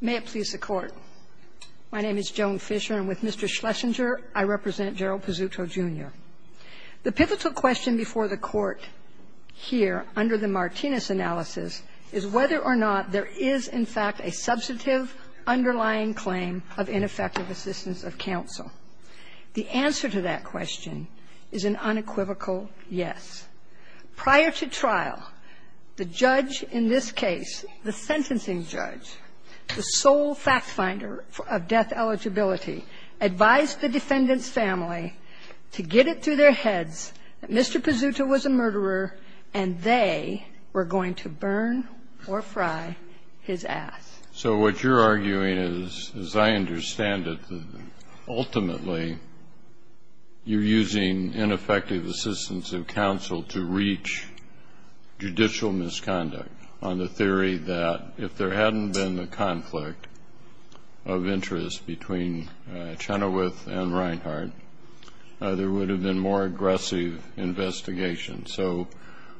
May it please the Court. My name is Joan Fisher, and with Mr. Schlesinger, I represent Gerald Pizzuto, Jr. The pivotal question before the Court here, under the Martinez analysis, is whether or not there is, in fact, a substantive underlying claim of ineffective assistance of counsel. The answer to that question is an unequivocal yes. Prior to trial, the judge in this case, the sentencing judge, the sole fact finder of death eligibility, advised the defendant's family to get it through their heads that Mr. Pizzuto was a murderer and they were going to burn or fry his ass. So what you're arguing is, as I understand it, ultimately you're using ineffective assistance of counsel to reach judicial misconduct on the theory that if there hadn't been the conflict of interest between Chenoweth and Reinhart, there would have been more aggressive investigation. So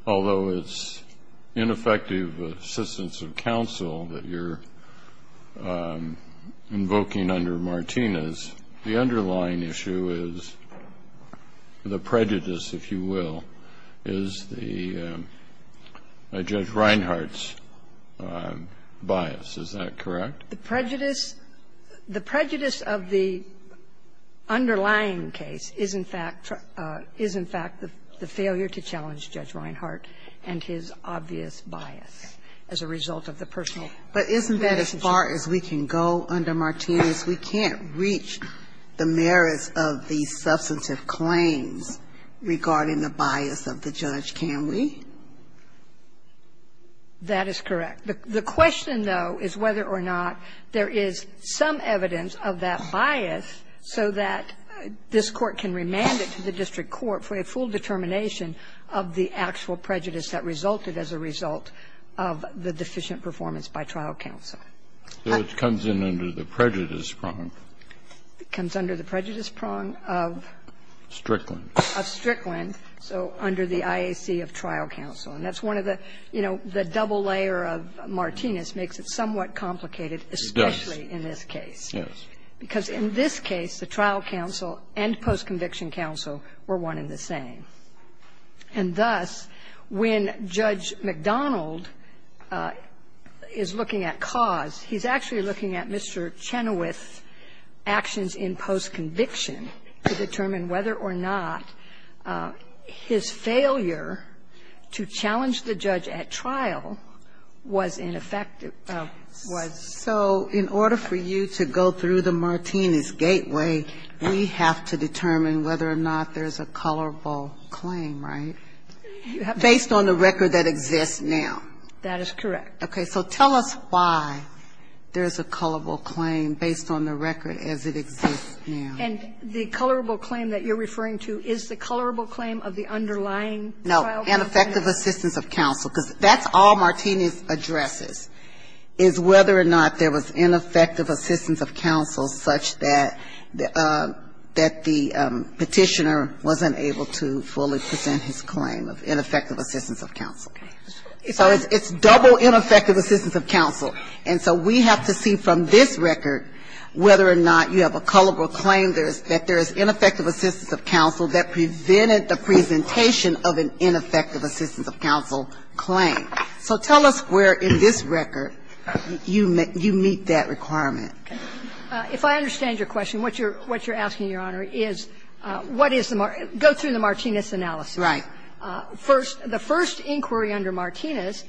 although it's ineffective assistance of counsel that you're invoking under Martinez, the underlying issue is the prejudice, if you will, is the Judge Reinhart's bias. Is that correct? The prejudice of the underlying case is, in fact, the failure to challenge Judge Reinhart and his obvious bias as a result of the personal investigation. But isn't that as far as we can go under Martinez? We can't reach the merits of the substantive claims regarding the bias of the judge, can we? That is correct. The question, though, is whether or not there is some evidence of that bias so that this Court can remand it to the district court for a full determination of the actual prejudice that resulted as a result of the deficient performance by trial counsel. So it comes in under the prejudice prong. It comes under the prejudice prong of? Strickland. Of Strickland. So under the IAC of trial counsel. And that's one of the, you know, the double layer of Martinez makes it somewhat complicated, especially in this case. Yes. Because in this case, the trial counsel and post-conviction counsel were one and the same. And thus, when Judge McDonald is looking at cause, he's actually looking at Mr. Chenoweth's actions in post-conviction to determine whether or not his failure to challenge the judge at trial was in effect, was. So in order for you to go through the Martinez gateway, we have to determine whether or not there's a colorable claim, right, based on the record that exists now? That is correct. Okay. So tell us why there's a colorable claim based on the record as it exists now. And the colorable claim that you're referring to is the colorable claim of the underlying trial counsel? No, ineffective assistance of counsel. Because that's all Martinez addresses, is whether or not there was ineffective assistance of counsel such that the Petitioner wasn't able to fully present his claim of ineffective assistance of counsel. So it's double ineffective assistance of counsel. And so we have to see from this record whether or not you have a colorable claim that there is ineffective assistance of counsel that prevented the presentation of an ineffective assistance of counsel claim. So tell us where in this record you meet that requirement. If I understand your question, what you're asking, Your Honor, is what is the Mart go through the Martinez analysis. Right. First, the first inquiry under Martinez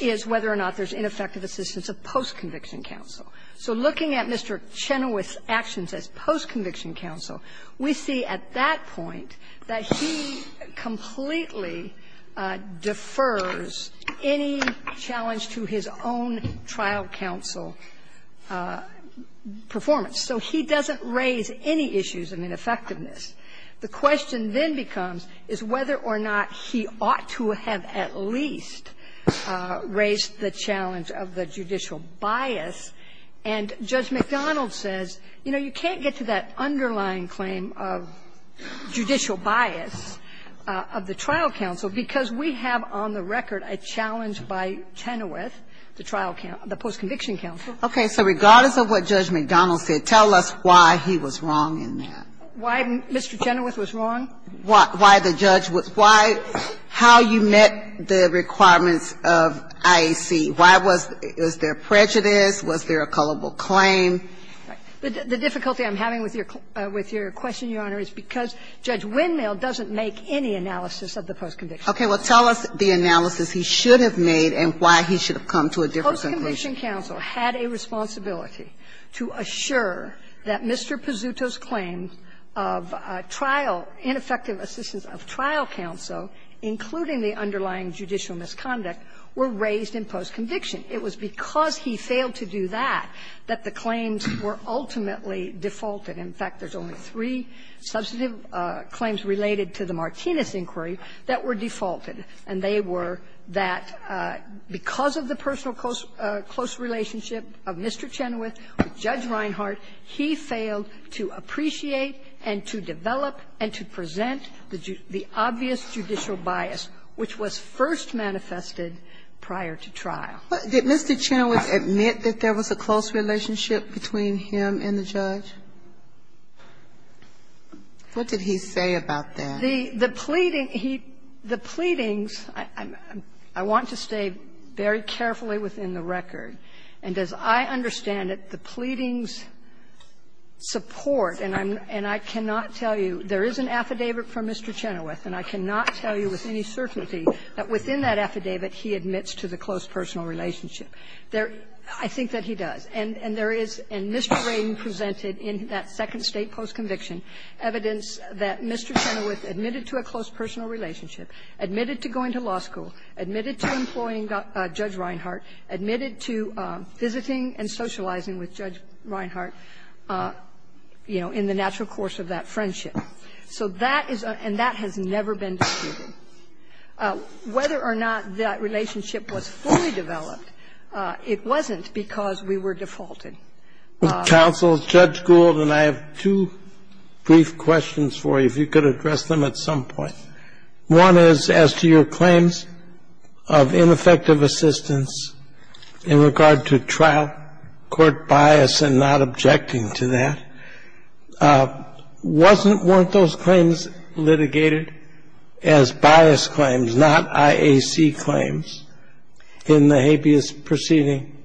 is whether or not there's ineffective assistance of post-conviction counsel. So looking at Mr. Chenoweth's actions as post-conviction counsel, we see at that point that he completely defers any challenge to his own trial counsel performance. So he doesn't raise any issues of ineffectiveness. The question then becomes is whether or not he ought to have at least raised the challenge of the judicial bias. And Judge McDonald says, you know, you can't get to that underlying claim of judicial bias of the trial counsel because we have on the record a challenge by Chenoweth, the trial counsel, the post-conviction counsel. Okay. So regardless of what Judge McDonald said, tell us why he was wrong in that. Why Mr. Chenoweth was wrong? Why the judge was why, how you met the requirements of IAC. Why was there prejudice? Was there a culpable claim? The difficulty I'm having with your question, Your Honor, is because Judge Windmill doesn't make any analysis of the post-conviction counsel. Okay. Well, tell us the analysis he should have made and why he should have come to a different conclusion. Post-conviction counsel had a responsibility to assure that Mr. Pizzuto's claims of trial, ineffective assistance of trial counsel, including the underlying judicial misconduct, were raised in post-conviction. It was because he failed to do that that the claims were ultimately defaulted. In fact, there's only three substantive claims related to the Martinez inquiry that were defaulted, and they were that because of the personal close relationship of Mr. Chenoweth with Judge Reinhart, he failed to appreciate and to develop and to be first manifested prior to trial. Did Mr. Chenoweth admit that there was a close relationship between him and the judge? What did he say about that? The pleading, he the pleadings, I want to stay very carefully within the record. And as I understand it, the pleadings support, and I cannot tell you, there is an affidavit from Mr. Chenoweth, and I cannot tell you with any certainty that within that affidavit he admits to the close personal relationship. I think that he does. And there is, in Mr. Ring presented in that second State post-conviction evidence that Mr. Chenoweth admitted to a close personal relationship, admitted to going to law school, admitted to employing Judge Reinhart, admitted to visiting and socializing with Judge Reinhart, you know, in the natural course of that friendship. So that is a – and that has never been disputed. Whether or not that relationship was fully developed, it wasn't because we were defaulted. Counsel, Judge Gould, and I have two brief questions for you, if you could address them at some point. One is, as to your claims of ineffective assistance in regard to trial court bias and not objecting to that, wasn't – weren't those claims litigated as bias claims, not IAC claims in the habeas proceeding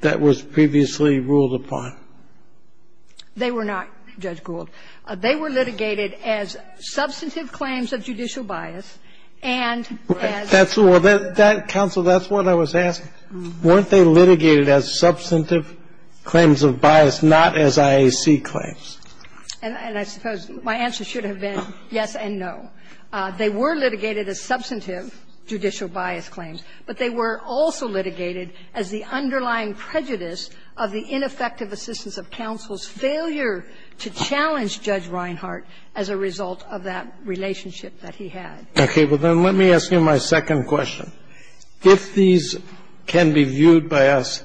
that was previously ruled upon? They were not, Judge Gould. They were litigated as substantive claims of judicial bias and as – That's what – Counsel, that's what I was asking. Weren't they litigated as substantive claims of bias, not as IAC claims? And I suppose my answer should have been yes and no. They were litigated as substantive judicial bias claims, but they were also litigated as the underlying prejudice of the ineffective assistance of counsel's failure to challenge Judge Reinhart as a result of that relationship that he had. Okay. Well, then, let me ask you my second question. If these can be viewed by us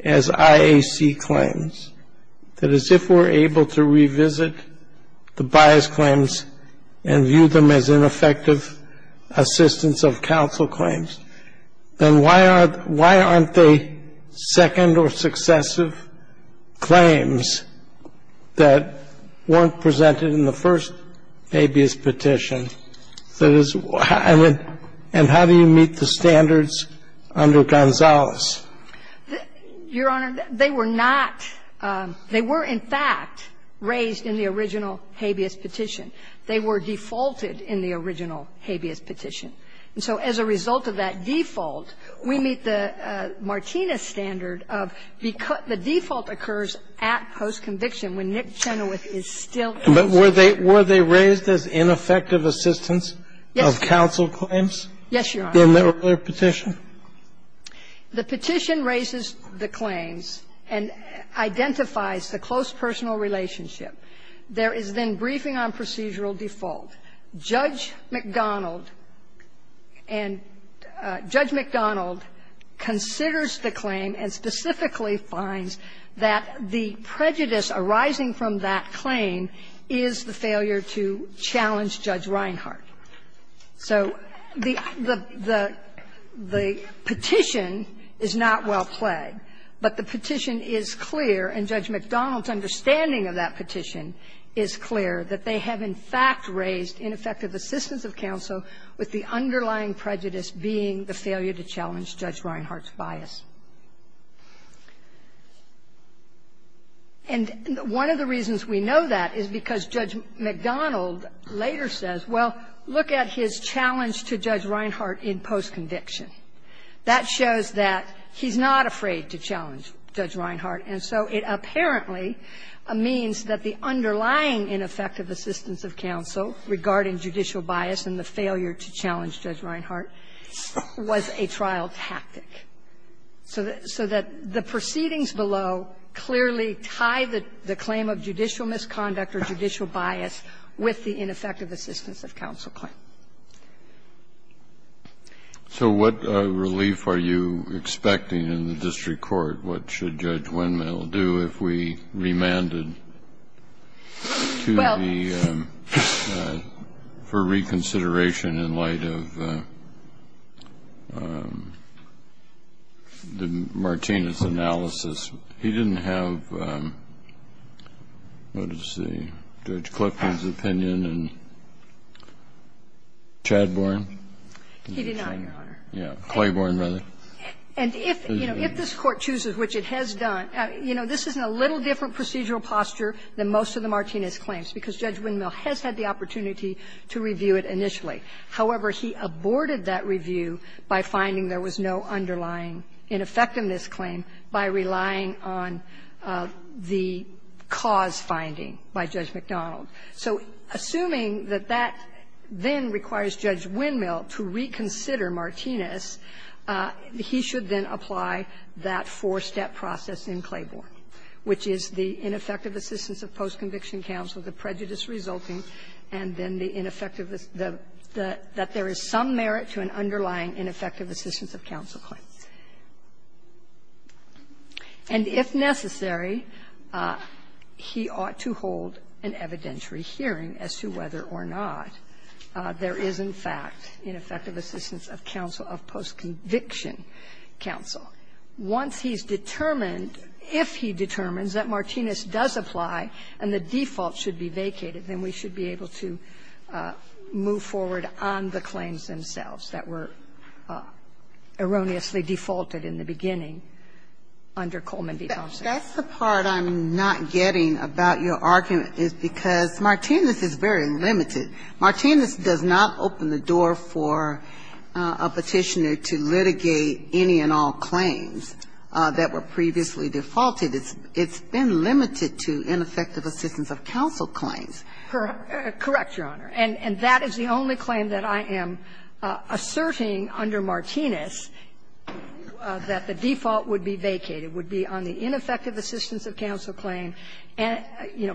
as IAC claims, that is, if we're able to revisit the bias claims and view them as ineffective assistance of counsel claims, then why are – why aren't they second or successive claims that weren't presented in the first habeas petition? That is, and how do you meet the standards under Gonzales? Your Honor, they were not – they were, in fact, raised in the original habeas petition. They were defaulted in the original habeas petition. And so as a result of that default, we meet the Martinez standard of the default occurs at post-conviction when Nick Chenoweth is still – But were they – were they raised as ineffective assistance of counsel claims? Yes, Your Honor. In the earlier petition? The petition raises the claims and identifies the close personal relationship. There is then briefing on procedural default. Judge McDonald and – Judge McDonald considers the claim and specifically finds that the prejudice arising from that claim is the failure to challenge Judge Reinhart. So the – the petition is not well played, but the petition is clear, and Judge McDonald's understanding of that petition is clear, that they have, in fact, raised ineffective assistance of counsel with the underlying prejudice being the failure to challenge Judge Reinhart's bias. And one of the reasons we know that is because Judge McDonald later says, well, look at his challenge to Judge Reinhart in post-conviction. That shows that he's not afraid to challenge Judge Reinhart. And so it apparently means that the underlying ineffective assistance of counsel regarding judicial bias and the failure to challenge Judge Reinhart was a trial tactic, so that the proceedings below clearly tie the claim of judicial misconduct or judicial bias with the ineffective assistance of counsel claim. So what relief are you expecting in the district court? What should Judge Winmale do if we remanded to the district court? Kennedy, for reconsideration in light of the Martinez analysis, he didn't have what is the – Judge Clifton's opinion and Chadbourne? He did not, Your Honor. Claybourne, rather. And if, you know, if this Court chooses, which it has done, you know, this is in a little different procedural posture than most of the Martinez claims, because Judge Winmale has had the opportunity to review it initially. However, he aborted that review by finding there was no underlying ineffectiveness claim by relying on the cause finding by Judge MacDonald. So assuming that that then requires Judge Winmale to reconsider Martinez, he should then apply that four-step process in Claybourne, which is the ineffective assistance of post-conviction counsel, the prejudice resulting, and then the ineffectiveness that there is some merit to an underlying ineffective assistance of counsel claim. And if necessary, he ought to hold an evidentiary hearing as to whether or not there is, in fact, ineffective assistance of counsel of post-conviction counsel. Once he's determined, if he determines that Martinez does apply and the default should be vacated, then we should be able to move forward on the claims themselves that were erroneously defaulted in the beginning under Coleman v. Thompson. That's the part I'm not getting about your argument is because Martinez is very limited. Martinez does not open the door for a Petitioner to litigate any and all claims that were previously defaulted. It's been limited to ineffective assistance of counsel claims. Correct, Your Honor. And that is the only claim that I am asserting under Martinez that the default would be vacated, would be on the ineffective assistance of counsel claim and, you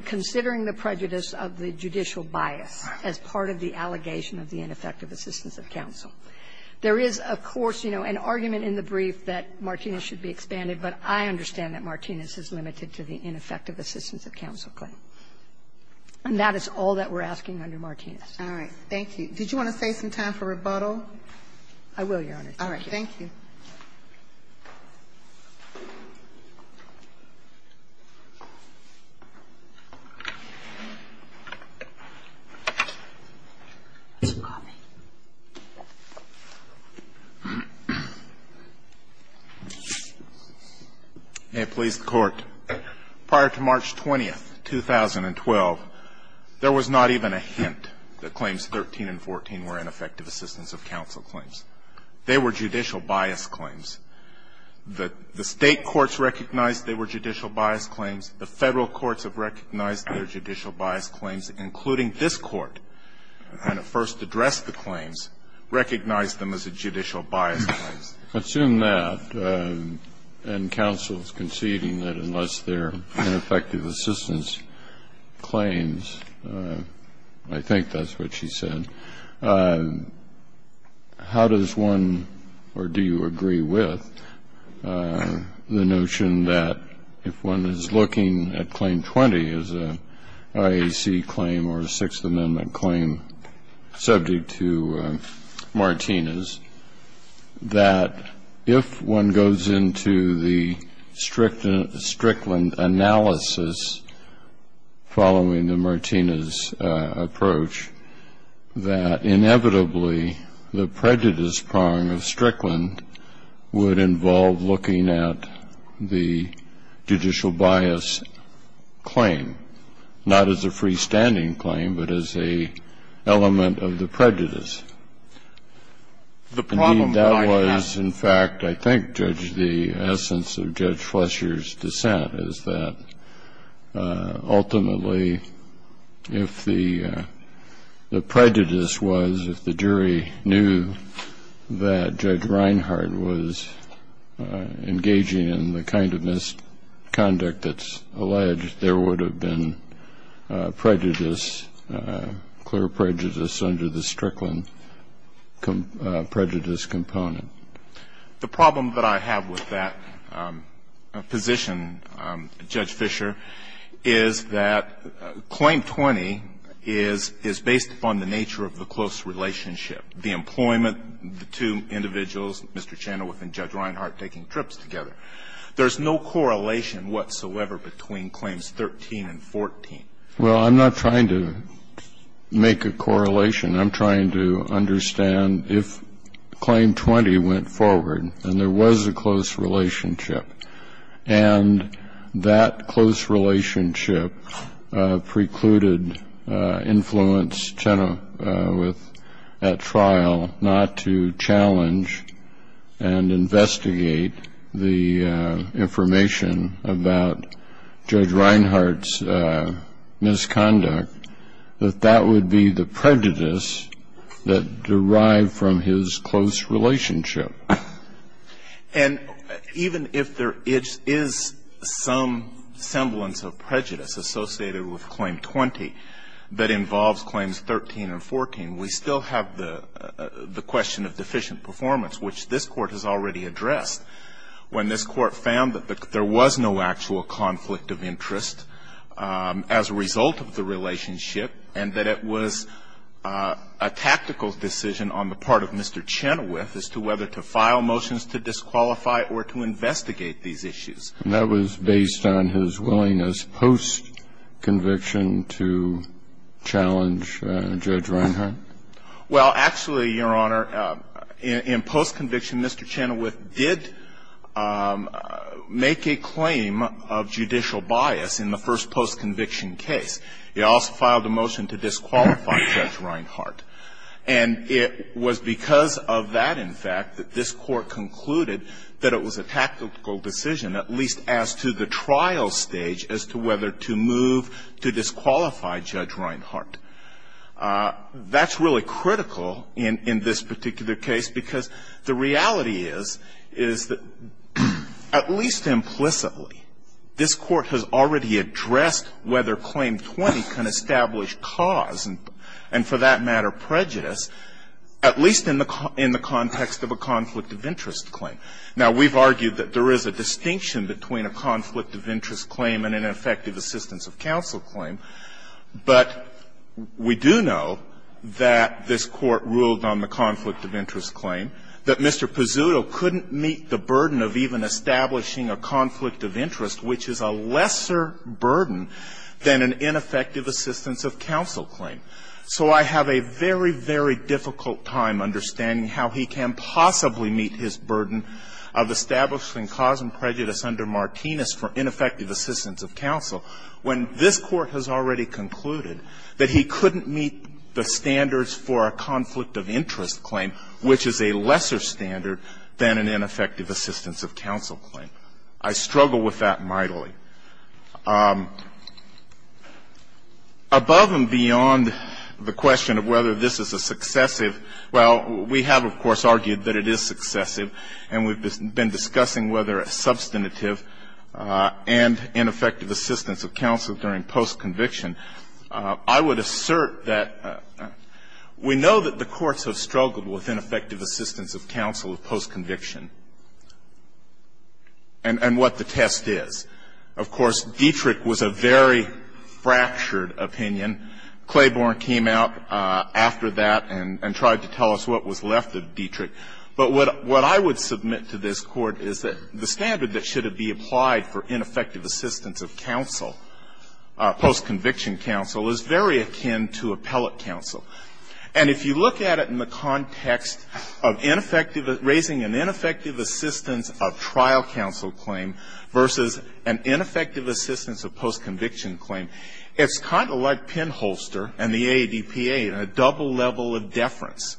There is, of course, you know, an argument in the brief that Martinez should be expanded, but I understand that Martinez is limited to the ineffective assistance of counsel claim. And that is all that we're asking under Martinez. All right. Thank you. Did you want to save some time for rebuttal? I will, Your Honor. Thank you. All right. Thank you. May it please the Court. Prior to March 20, 2012, there was not even a hint that Claims 13 and 14 were ineffective assistance of counsel claims. They were judicial bias claims. The State courts recognized they were judicial bias claims. The Federal courts have recognized they're judicial bias claims, including this Court. When it first addressed the claims, recognized them as judicial bias claims. I assume that, and counsel is conceding that unless they're ineffective assistance claims, I think that's what she said. I'm just wondering, how does one, or do you agree with the notion that if one is looking at Claim 20 as an IAC claim or a Sixth Amendment claim subject to Martinez, that if one goes into the Strickland analysis following the Martinez approach, that inevitably the prejudice prong of Strickland would involve looking at the judicial bias claim, not as a freestanding claim, but as a element of the prejudice? The problem I have to say is that I think the essence of Judge Flesher's dissent is that ultimately if the prejudice was, if the jury knew that Judge Reinhart was engaging in the kind of misconduct that's alleged, there would have been prejudice, clear prejudice under the Strickland prejudice component. The problem that I have with that position, Judge Flesher, is that Claim 20 is based upon the nature of the close relationship, the employment, the two individuals, Mr. Chandawith and Judge Reinhart taking trips together. There's no correlation whatsoever between Claims 13 and 14. Well, I'm not trying to make a correlation. I'm trying to understand if Claim 20 went forward and there was a close relationship and that close relationship precluded influence Chandawith at trial not to challenge and investigate the information about Judge Reinhart's misconduct, that that would be the prejudice that derived from his close relationship. And even if there is some semblance of prejudice associated with Claim 20 that involves Claims 13 and 14, we still have the question of deficient performance, which this Court has already addressed. When this Court found that there was no actual conflict of interest as a result of the relationship and that it was a tactical decision on the part of Mr. Chandawith as to whether to file motions to disqualify or to investigate these issues. And that was based on his willingness post-conviction to challenge Judge Reinhart? Well, actually, Your Honor, in post-conviction, Mr. Chandawith did make a claim of judicial bias in the first post-conviction case. He also filed a motion to disqualify Judge Reinhart. And it was because of that, in fact, that this Court concluded that it was a tactical decision, at least as to the trial stage, as to whether to move to disqualify Judge Reinhart. That's really critical in this particular case because the reality is that, at least implicitly, this Court has already addressed whether Claim 20 can establish cause and, for that matter, prejudice, at least in the context of a conflict of interest claim. Now, we've argued that there is a distinction between a conflict of interest claim and an effective assistance of counsel claim. But we do know that this Court ruled on the conflict of interest claim, that Mr. Pizzuto couldn't meet the burden of even establishing a conflict of interest, which is a lesser burden than an ineffective assistance of counsel claim. So I have a very, very difficult time understanding how he can possibly meet his burden of establishing cause and prejudice under Martinez for ineffective assistance of counsel when this Court has already concluded that he couldn't meet the standards for a conflict of interest claim, which is a lesser standard than an ineffective assistance of counsel claim. I struggle with that mightily. Above and beyond the question of whether this is a successive, well, we have, of course, argued that it is successive, and we've been discussing whether a substantive and ineffective assistance of counsel during post-conviction. I would assert that we know that the courts have struggled with ineffective assistance of counsel of post-conviction and what the test is. Of course, Dietrich was a very fractured opinion. Claiborne came out after that and tried to tell us what was left of Dietrich. But what I would submit to this Court is that the standard that should be applied for ineffective assistance of counsel, post-conviction counsel, is very akin to appellate counsel. And if you look at it in the context of raising an ineffective assistance of trial counsel claim versus an ineffective assistance of post-conviction claim, it's kind of like pinholster and the AADPA in a double level of deference.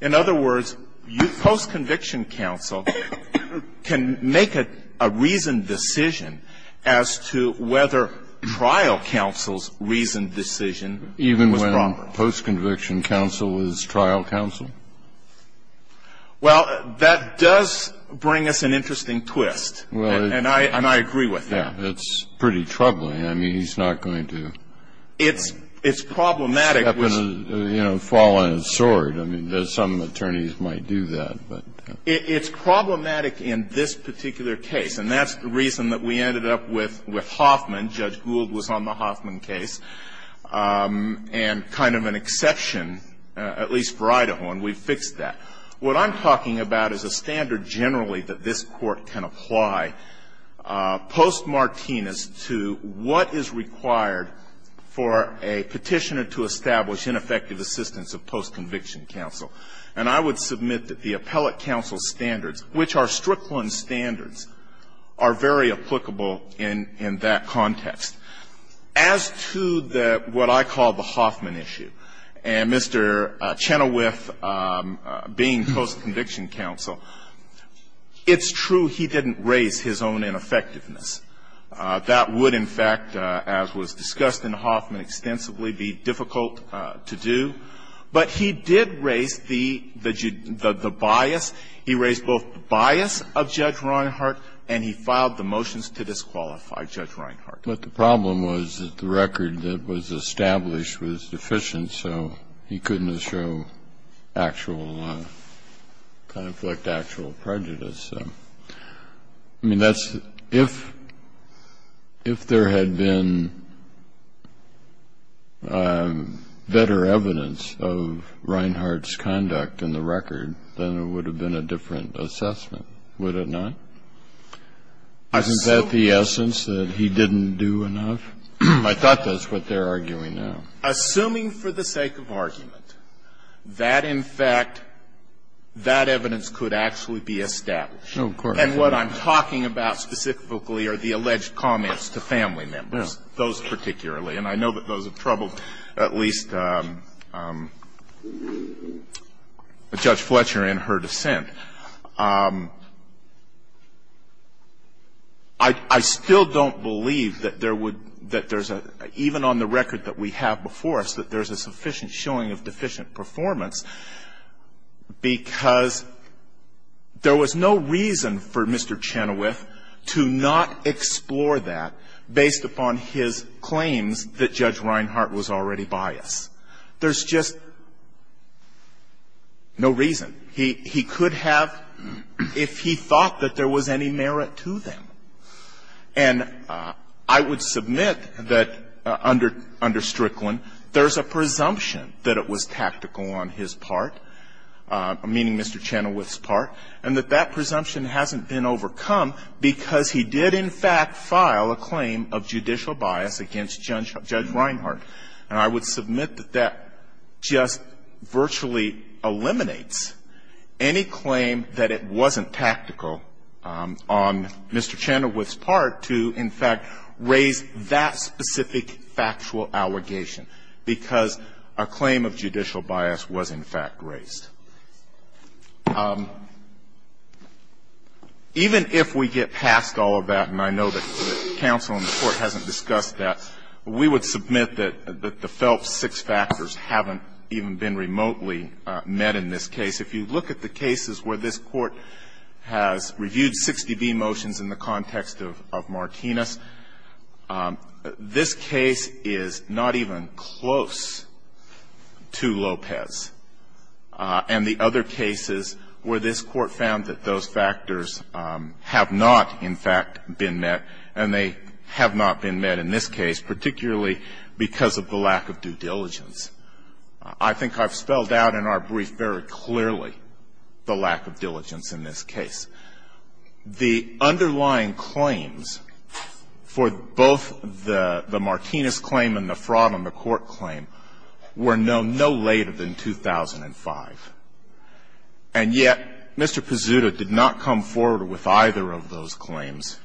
In other words, post-conviction counsel can make a reasoned decision as to whether trial counsel's reasoned decision was proper. Even when post-conviction counsel is trial counsel? Well, that does bring us an interesting twist. And I agree with that. It's pretty troubling. I mean, he's not going to step and, you know, fall on his sword. I mean, some attorneys might do that. It's problematic in this particular case. And that's the reason that we ended up with Hoffman. Judge Gould was on the Hoffman case. And kind of an exception, at least for Idaho, and we fixed that. What I'm talking about is a standard generally that this Court can apply post-Martinez to what is required for a petitioner to establish ineffective assistance of post-conviction counsel. And I would submit that the appellate counsel's standards, which are Strickland standards, are very applicable in that context. As to what I call the Hoffman issue, and Mr. Chenoweth being post-conviction counsel, it's true he didn't raise his own ineffectiveness. That would, in fact, as was discussed in Hoffman extensively, be difficult to do. But he did raise the bias. He raised both the bias of Judge Reinhardt, and he filed the motions to disqualify Judge Reinhardt. But the problem was that the record that was established was deficient, so he couldn't show actual conflict, actual prejudice. I mean, that's the – if there had been better evidence, there would have been better evidence of Reinhardt's conduct in the record, then it would have been a different assessment, would it not? Is that the essence, that he didn't do enough? I thought that's what they're arguing now. Assuming for the sake of argument that, in fact, that evidence could actually be established. No, of course not. And what I'm talking about specifically are the alleged comments to family members, those particularly. And I know that those have troubled at least Judge Fletcher in her dissent. I still don't believe that there would – that there's a – even on the record that we have before us, that there's a sufficient showing of deficient performance because there was no reason for Mr. Chenoweth to not explore that based upon his claims that Judge Reinhardt was already biased. There's just no reason. He could have, if he thought that there was any merit to them. And I would submit that under Strickland, there's a presumption that it was tactical on his part, meaning Mr. Chenoweth's part, and that that presumption hasn't been raised. And I would submit that that just virtually eliminates any claim that it wasn't tactical on Mr. Chenoweth's part to, in fact, raise that specific factual allegation because a claim of judicial bias was, in fact, raised. Even if we get past all of that, and I know that counsel in the Court hasn't discussed that, we would submit that the FELPS six factors haven't even been remotely met in this case. If you look at the cases where this Court has reviewed 60B motions in the context of Martinez, this case is not even close to Lopez. And the other cases where this Court found that those factors have not, in fact, been met, and they have not been met in this case, particularly because of the lack of due diligence, I think I've spelled out in our brief very clearly the lack of diligence in this case. The underlying claims for both the Martinez claim and the fraud on the court claim were known no later than 2005. And yet, Mr. Pezzuto did not come forward with either of those claims.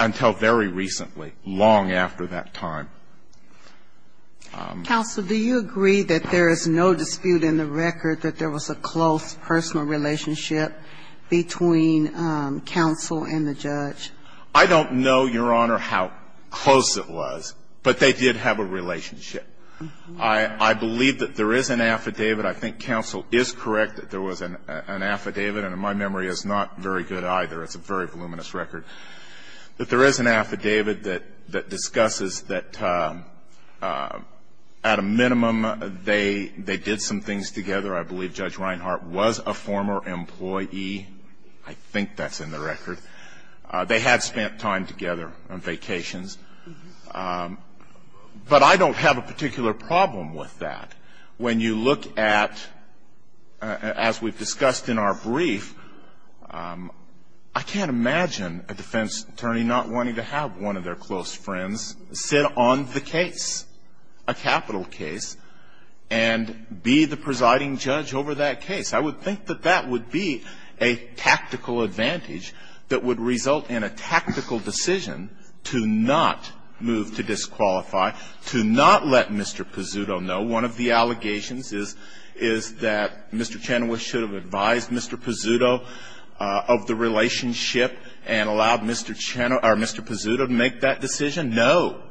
Until very recently, long after that time. Ginsburg. Counsel, do you agree that there is no dispute in the record that there was a close personal relationship between counsel and the judge? I don't know, Your Honor, how close it was. But they did have a relationship. I believe that there is an affidavit. I think counsel is correct that there was an affidavit. And my memory is not very good either. It's a very voluminous record. But there is an affidavit that discusses that at a minimum they did some things together. I believe Judge Reinhart was a former employee. I think that's in the record. They had spent time together on vacations. But I don't have a particular problem with that. When you look at, as we've discussed in our brief, I can't imagine a defense attorney not wanting to have one of their close friends sit on the case, a capital case, and be the presiding judge over that case. I would think that that would be a tactical advantage that would result in a tactical decision to not move to disqualify, to not let Mr. Pezzuto know one of the allegations is that Mr. Chenoweth should have advised Mr. Pezzuto of the relationship and allowed Mr. Pezzuto to make that decision. No.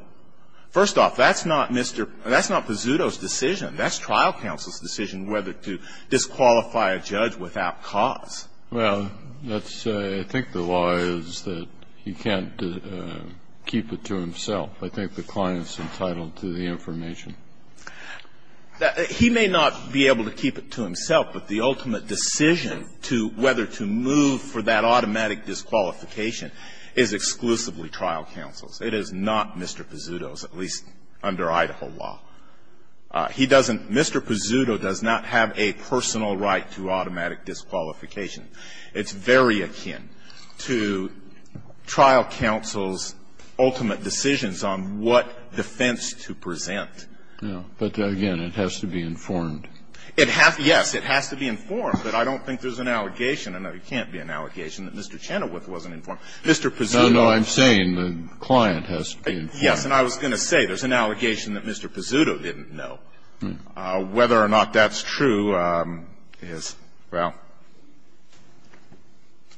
First off, that's not Pezzuto's decision. That's trial counsel's decision whether to disqualify a judge without cause. Well, let's say I think the law is that he can't keep it to himself. I think the client is entitled to the information. He may not be able to keep it to himself, but the ultimate decision to whether to move for that automatic disqualification is exclusively trial counsel's. It is not Mr. Pezzuto's, at least under Idaho law. He doesn't Mr. Pezzuto does not have a personal right to automatic disqualification. It's very akin to trial counsel's ultimate decisions on what defense to present with. But, again, it has to be informed. It has to be informed, but I don't think there's an allegation, and there can't be an allegation, that Mr. Chenoweth wasn't informed. Mr. Pezzuto. No, no, I'm saying the client has to be informed. Yes, and I was going to say there's an allegation that Mr. Pezzuto didn't know. Whether or not that's true is, well,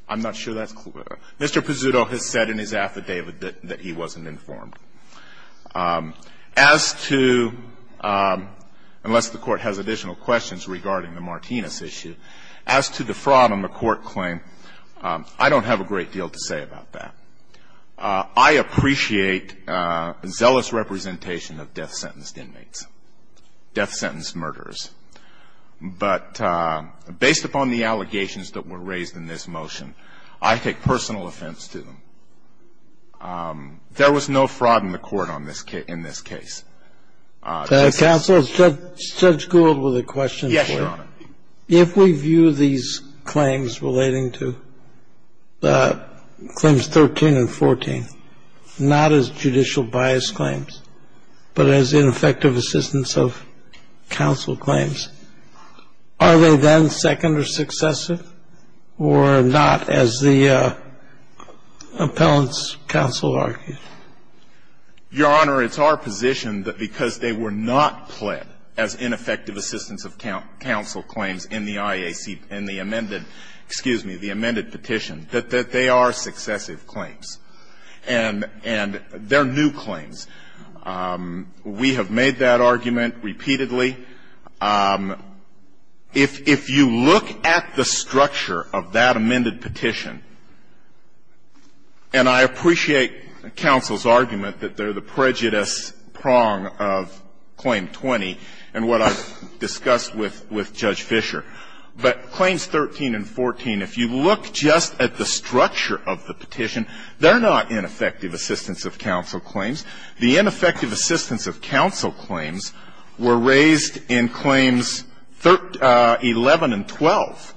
I'm not sure that's clear. Mr. Pezzuto has said in his affidavit that he wasn't informed. As to, unless the Court has additional questions regarding the Martinez issue, as to the fraud on the court claim, I don't have a great deal to say about that. I appreciate zealous representation of death-sentenced inmates, death-sentenced murderers, but based upon the allegations that were raised in this motion, I take personal offense to them. There was no fraud in the court in this case. Counsel, Judge Gould with a question. Yes, Your Honor. If we view these claims relating to claims 13 and 14, not as judicial bias claims, but as ineffective assistance of counsel claims, are they then second or successive, or not, as the appellant's counsel argued? Your Honor, it's our position that because they were not pled as ineffective assistance of counsel claims in the IAC, in the amended, excuse me, the amended petition, that they are successive claims, and they're new claims. We have made that argument repeatedly. If you look at the structure of that amended petition, and I appreciate counsel's argument that they're the prejudice prong of Claim 20 and what I've discussed with Judge Fischer, but Claims 13 and 14, if you look just at the structure of the petition, they're not ineffective assistance of counsel claims. The ineffective assistance of counsel claims were raised in Claims 11 and 12,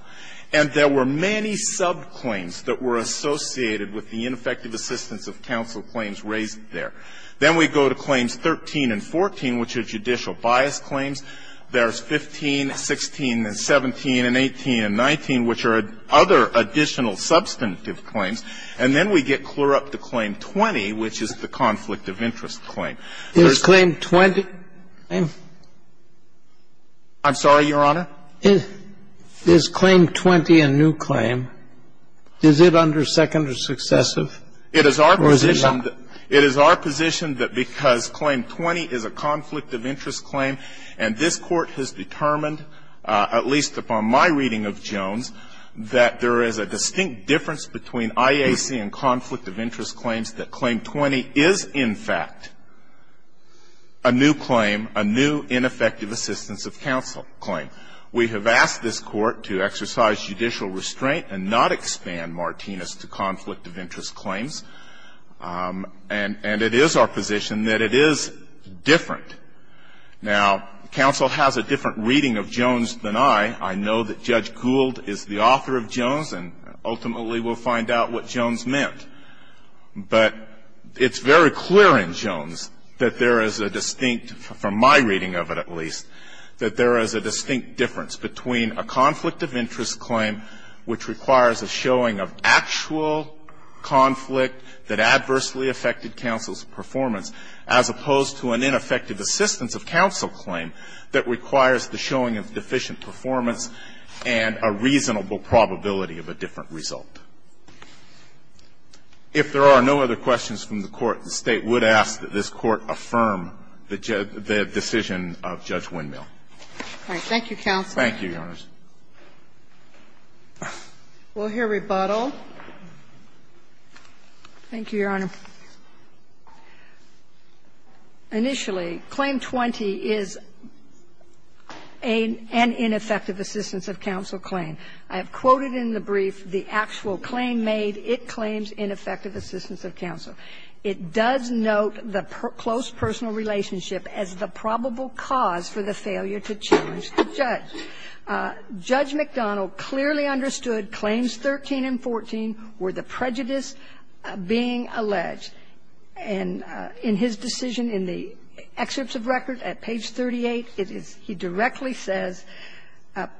and there were many subclaims that were associated with the ineffective assistance of counsel claims raised there. Then we go to Claims 13 and 14, which are judicial bias claims. There's 15, 16, and 17, and 18, and 19, which are other additional substantive claims. And then we get clear up to Claim 20, which is the conflict of interest claim. There's the claim 20. I'm sorry, Your Honor? Is Claim 20 a new claim? Is it under second or successive? It is our position that because Claim 20 is a conflict of interest claim and Claim 20 is a new claim, and this Court has determined, at least upon my reading of Jones, that there is a distinct difference between IAC and conflict of interest claims, that Claim 20 is, in fact, a new claim, a new ineffective assistance of counsel claim. We have asked this Court to exercise judicial restraint and not expand Martinez to conflict of interest claims, and it is our position that it is different. Now, counsel has a different reading of Jones than I. I know that Judge Gould is the author of Jones, and ultimately we'll find out what Jones meant. But it's very clear in Jones that there is a distinct, from my reading of it at least, that there is a distinct difference between a conflict of interest claim, which requires a showing of actual conflict that adversely affected counsel's performance, as opposed to an ineffective assistance of counsel claim that requires the showing of deficient performance and a reasonable probability of a different result. If there are no other questions from the Court, the State would ask that this Court affirm the decision of Judge Windmill. Thank you, counsel. Thank you, Your Honors. We'll hear rebuttal. Thank you, Your Honor. Initially, Claim 20 is an ineffective assistance of counsel claim. I have quoted in the brief the actual claim made. It claims ineffective assistance of counsel. It does note the close personal relationship as the probable cause for the failure to challenge the judge. Judge McDonnell clearly understood claims 13 and 14 were the prejudice being alleged. And in his decision in the excerpts of record at page 38, it is he directly says,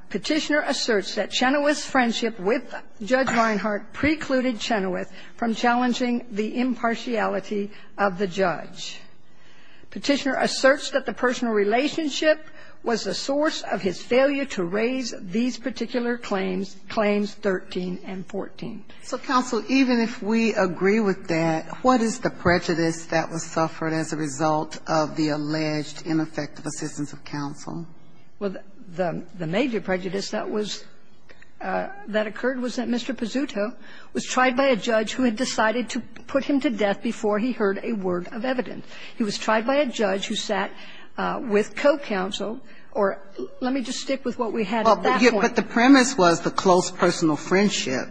Petitioner asserts that Chenoweth's friendship with Judge Reinhardt precluded Chenoweth from challenging the impartiality of the judge. Petitioner asserts that the personal relationship was the source of his failure to raise these particular claims, claims 13 and 14. So, counsel, even if we agree with that, what is the prejudice that was suffered as a result of the alleged ineffective assistance of counsel? Well, the major prejudice that was that occurred was that Mr. Pizzuto was tried by a judge who had decided to put him to death before he heard a word of evidence. He was tried by a judge who sat with co-counsel. Or let me just stick with what we had at that point. But the premise was the close personal friendship.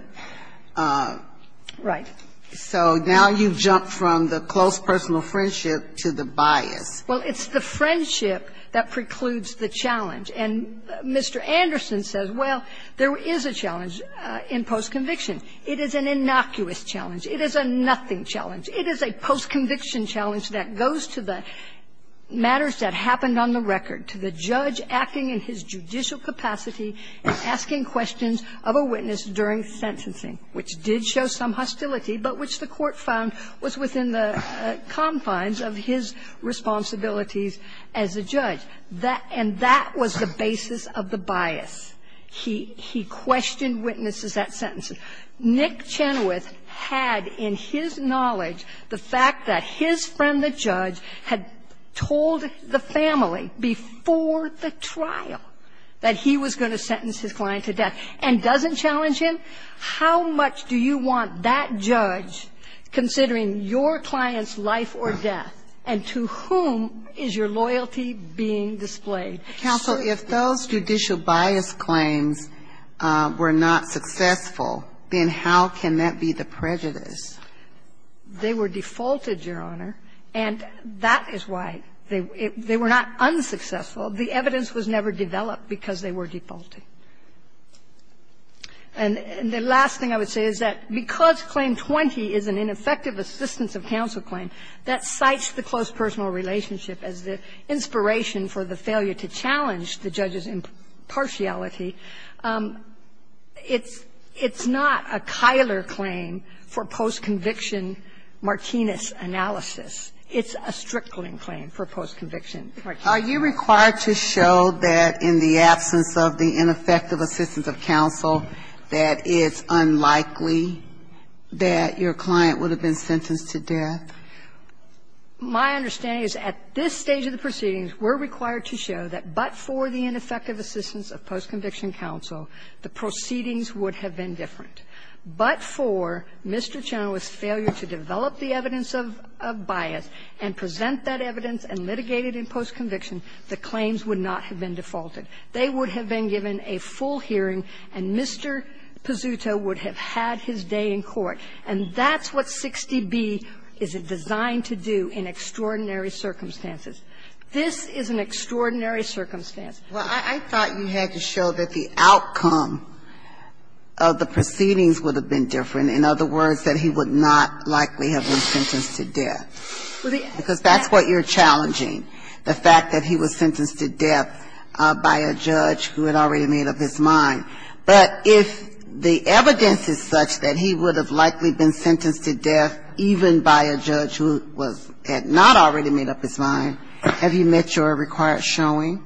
Right. So now you've jumped from the close personal friendship to the bias. Well, it's the friendship that precludes the challenge. And Mr. Anderson says, well, there is a challenge in postconviction. It is an innocuous challenge. It is a nothing challenge. It is a postconviction challenge that goes to the matters that happened on the record, to the judge acting in his judicial capacity and asking questions of a witness during sentencing, which did show some hostility, but which the Court found was within the confines of his responsibilities as a judge. And that was the basis of the bias. He questioned witnesses at sentencing. Nick Chenoweth had in his knowledge the fact that his friend, the judge, had told the family before the trial that he was going to sentence his client to death and doesn't challenge him. How much do you want that judge considering your client's life or death, and to whom is your loyalty being displayed? So if those judicial bias claims were not successful, then how can that be the prejudice? They were defaulted, Your Honor, and that is why they were not unsuccessful. The evidence was never developed because they were defaulted. And the last thing I would say is that because Claim 20 is an ineffective assistance of counsel claim, that cites the close personal relationship as the inspiration for the failure to challenge the judge's impartiality. It's not a Keiler claim for post-conviction Martinez analysis. It's a Strickland claim for post-conviction Martinez. Are you required to show that in the absence of the ineffective assistance of counsel that it's unlikely that your client would have been sentenced to death? My understanding is at this stage of the proceedings, we're required to show that but for the ineffective assistance of post-conviction counsel, the proceedings would have been different. But for Mr. Chenoweth's failure to develop the evidence of bias and present that evidence and litigate it in post-conviction, the claims would not have been defaulted. They would have been given a full hearing, and Mr. Pizzuto would have had his day in court. And that's what 60B is designed to do in extraordinary circumstances. This is an extraordinary circumstance. Well, I thought you had to show that the outcome of the proceedings would have been different, in other words, that he would not likely have been sentenced to death. Because that's what you're challenging, the fact that he was sentenced to death by a judge who had already made up his mind. But if the evidence is such that he would have likely been sentenced to death even by a judge who was at not already made up his mind, have you met your required showing?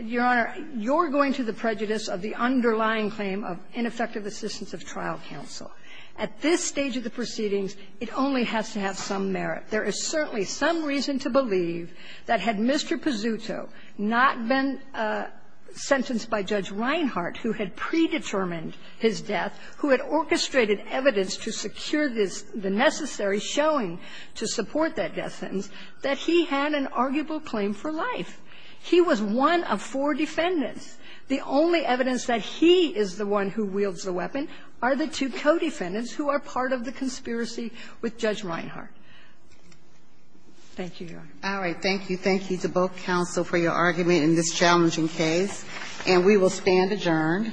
Your Honor, you're going to the prejudice of the underlying claim of ineffective assistance of trial counsel. At this stage of the proceedings, it only has to have some merit. There is certainly some reason to believe that had Mr. Pizzuto not been sentenced by Judge Reinhardt, who had predetermined his death, who had orchestrated evidence to secure the necessary showing to support that death sentence, that he had an arguable claim for life. He was one of four defendants. The only evidence that he is the one who wields the weapon are the two co-defendants who are part of the conspiracy with Judge Reinhardt. Thank you, Your Honor. All right. Thank you. Thank you to both counsel for your argument in this challenging case. And we will stand adjourned.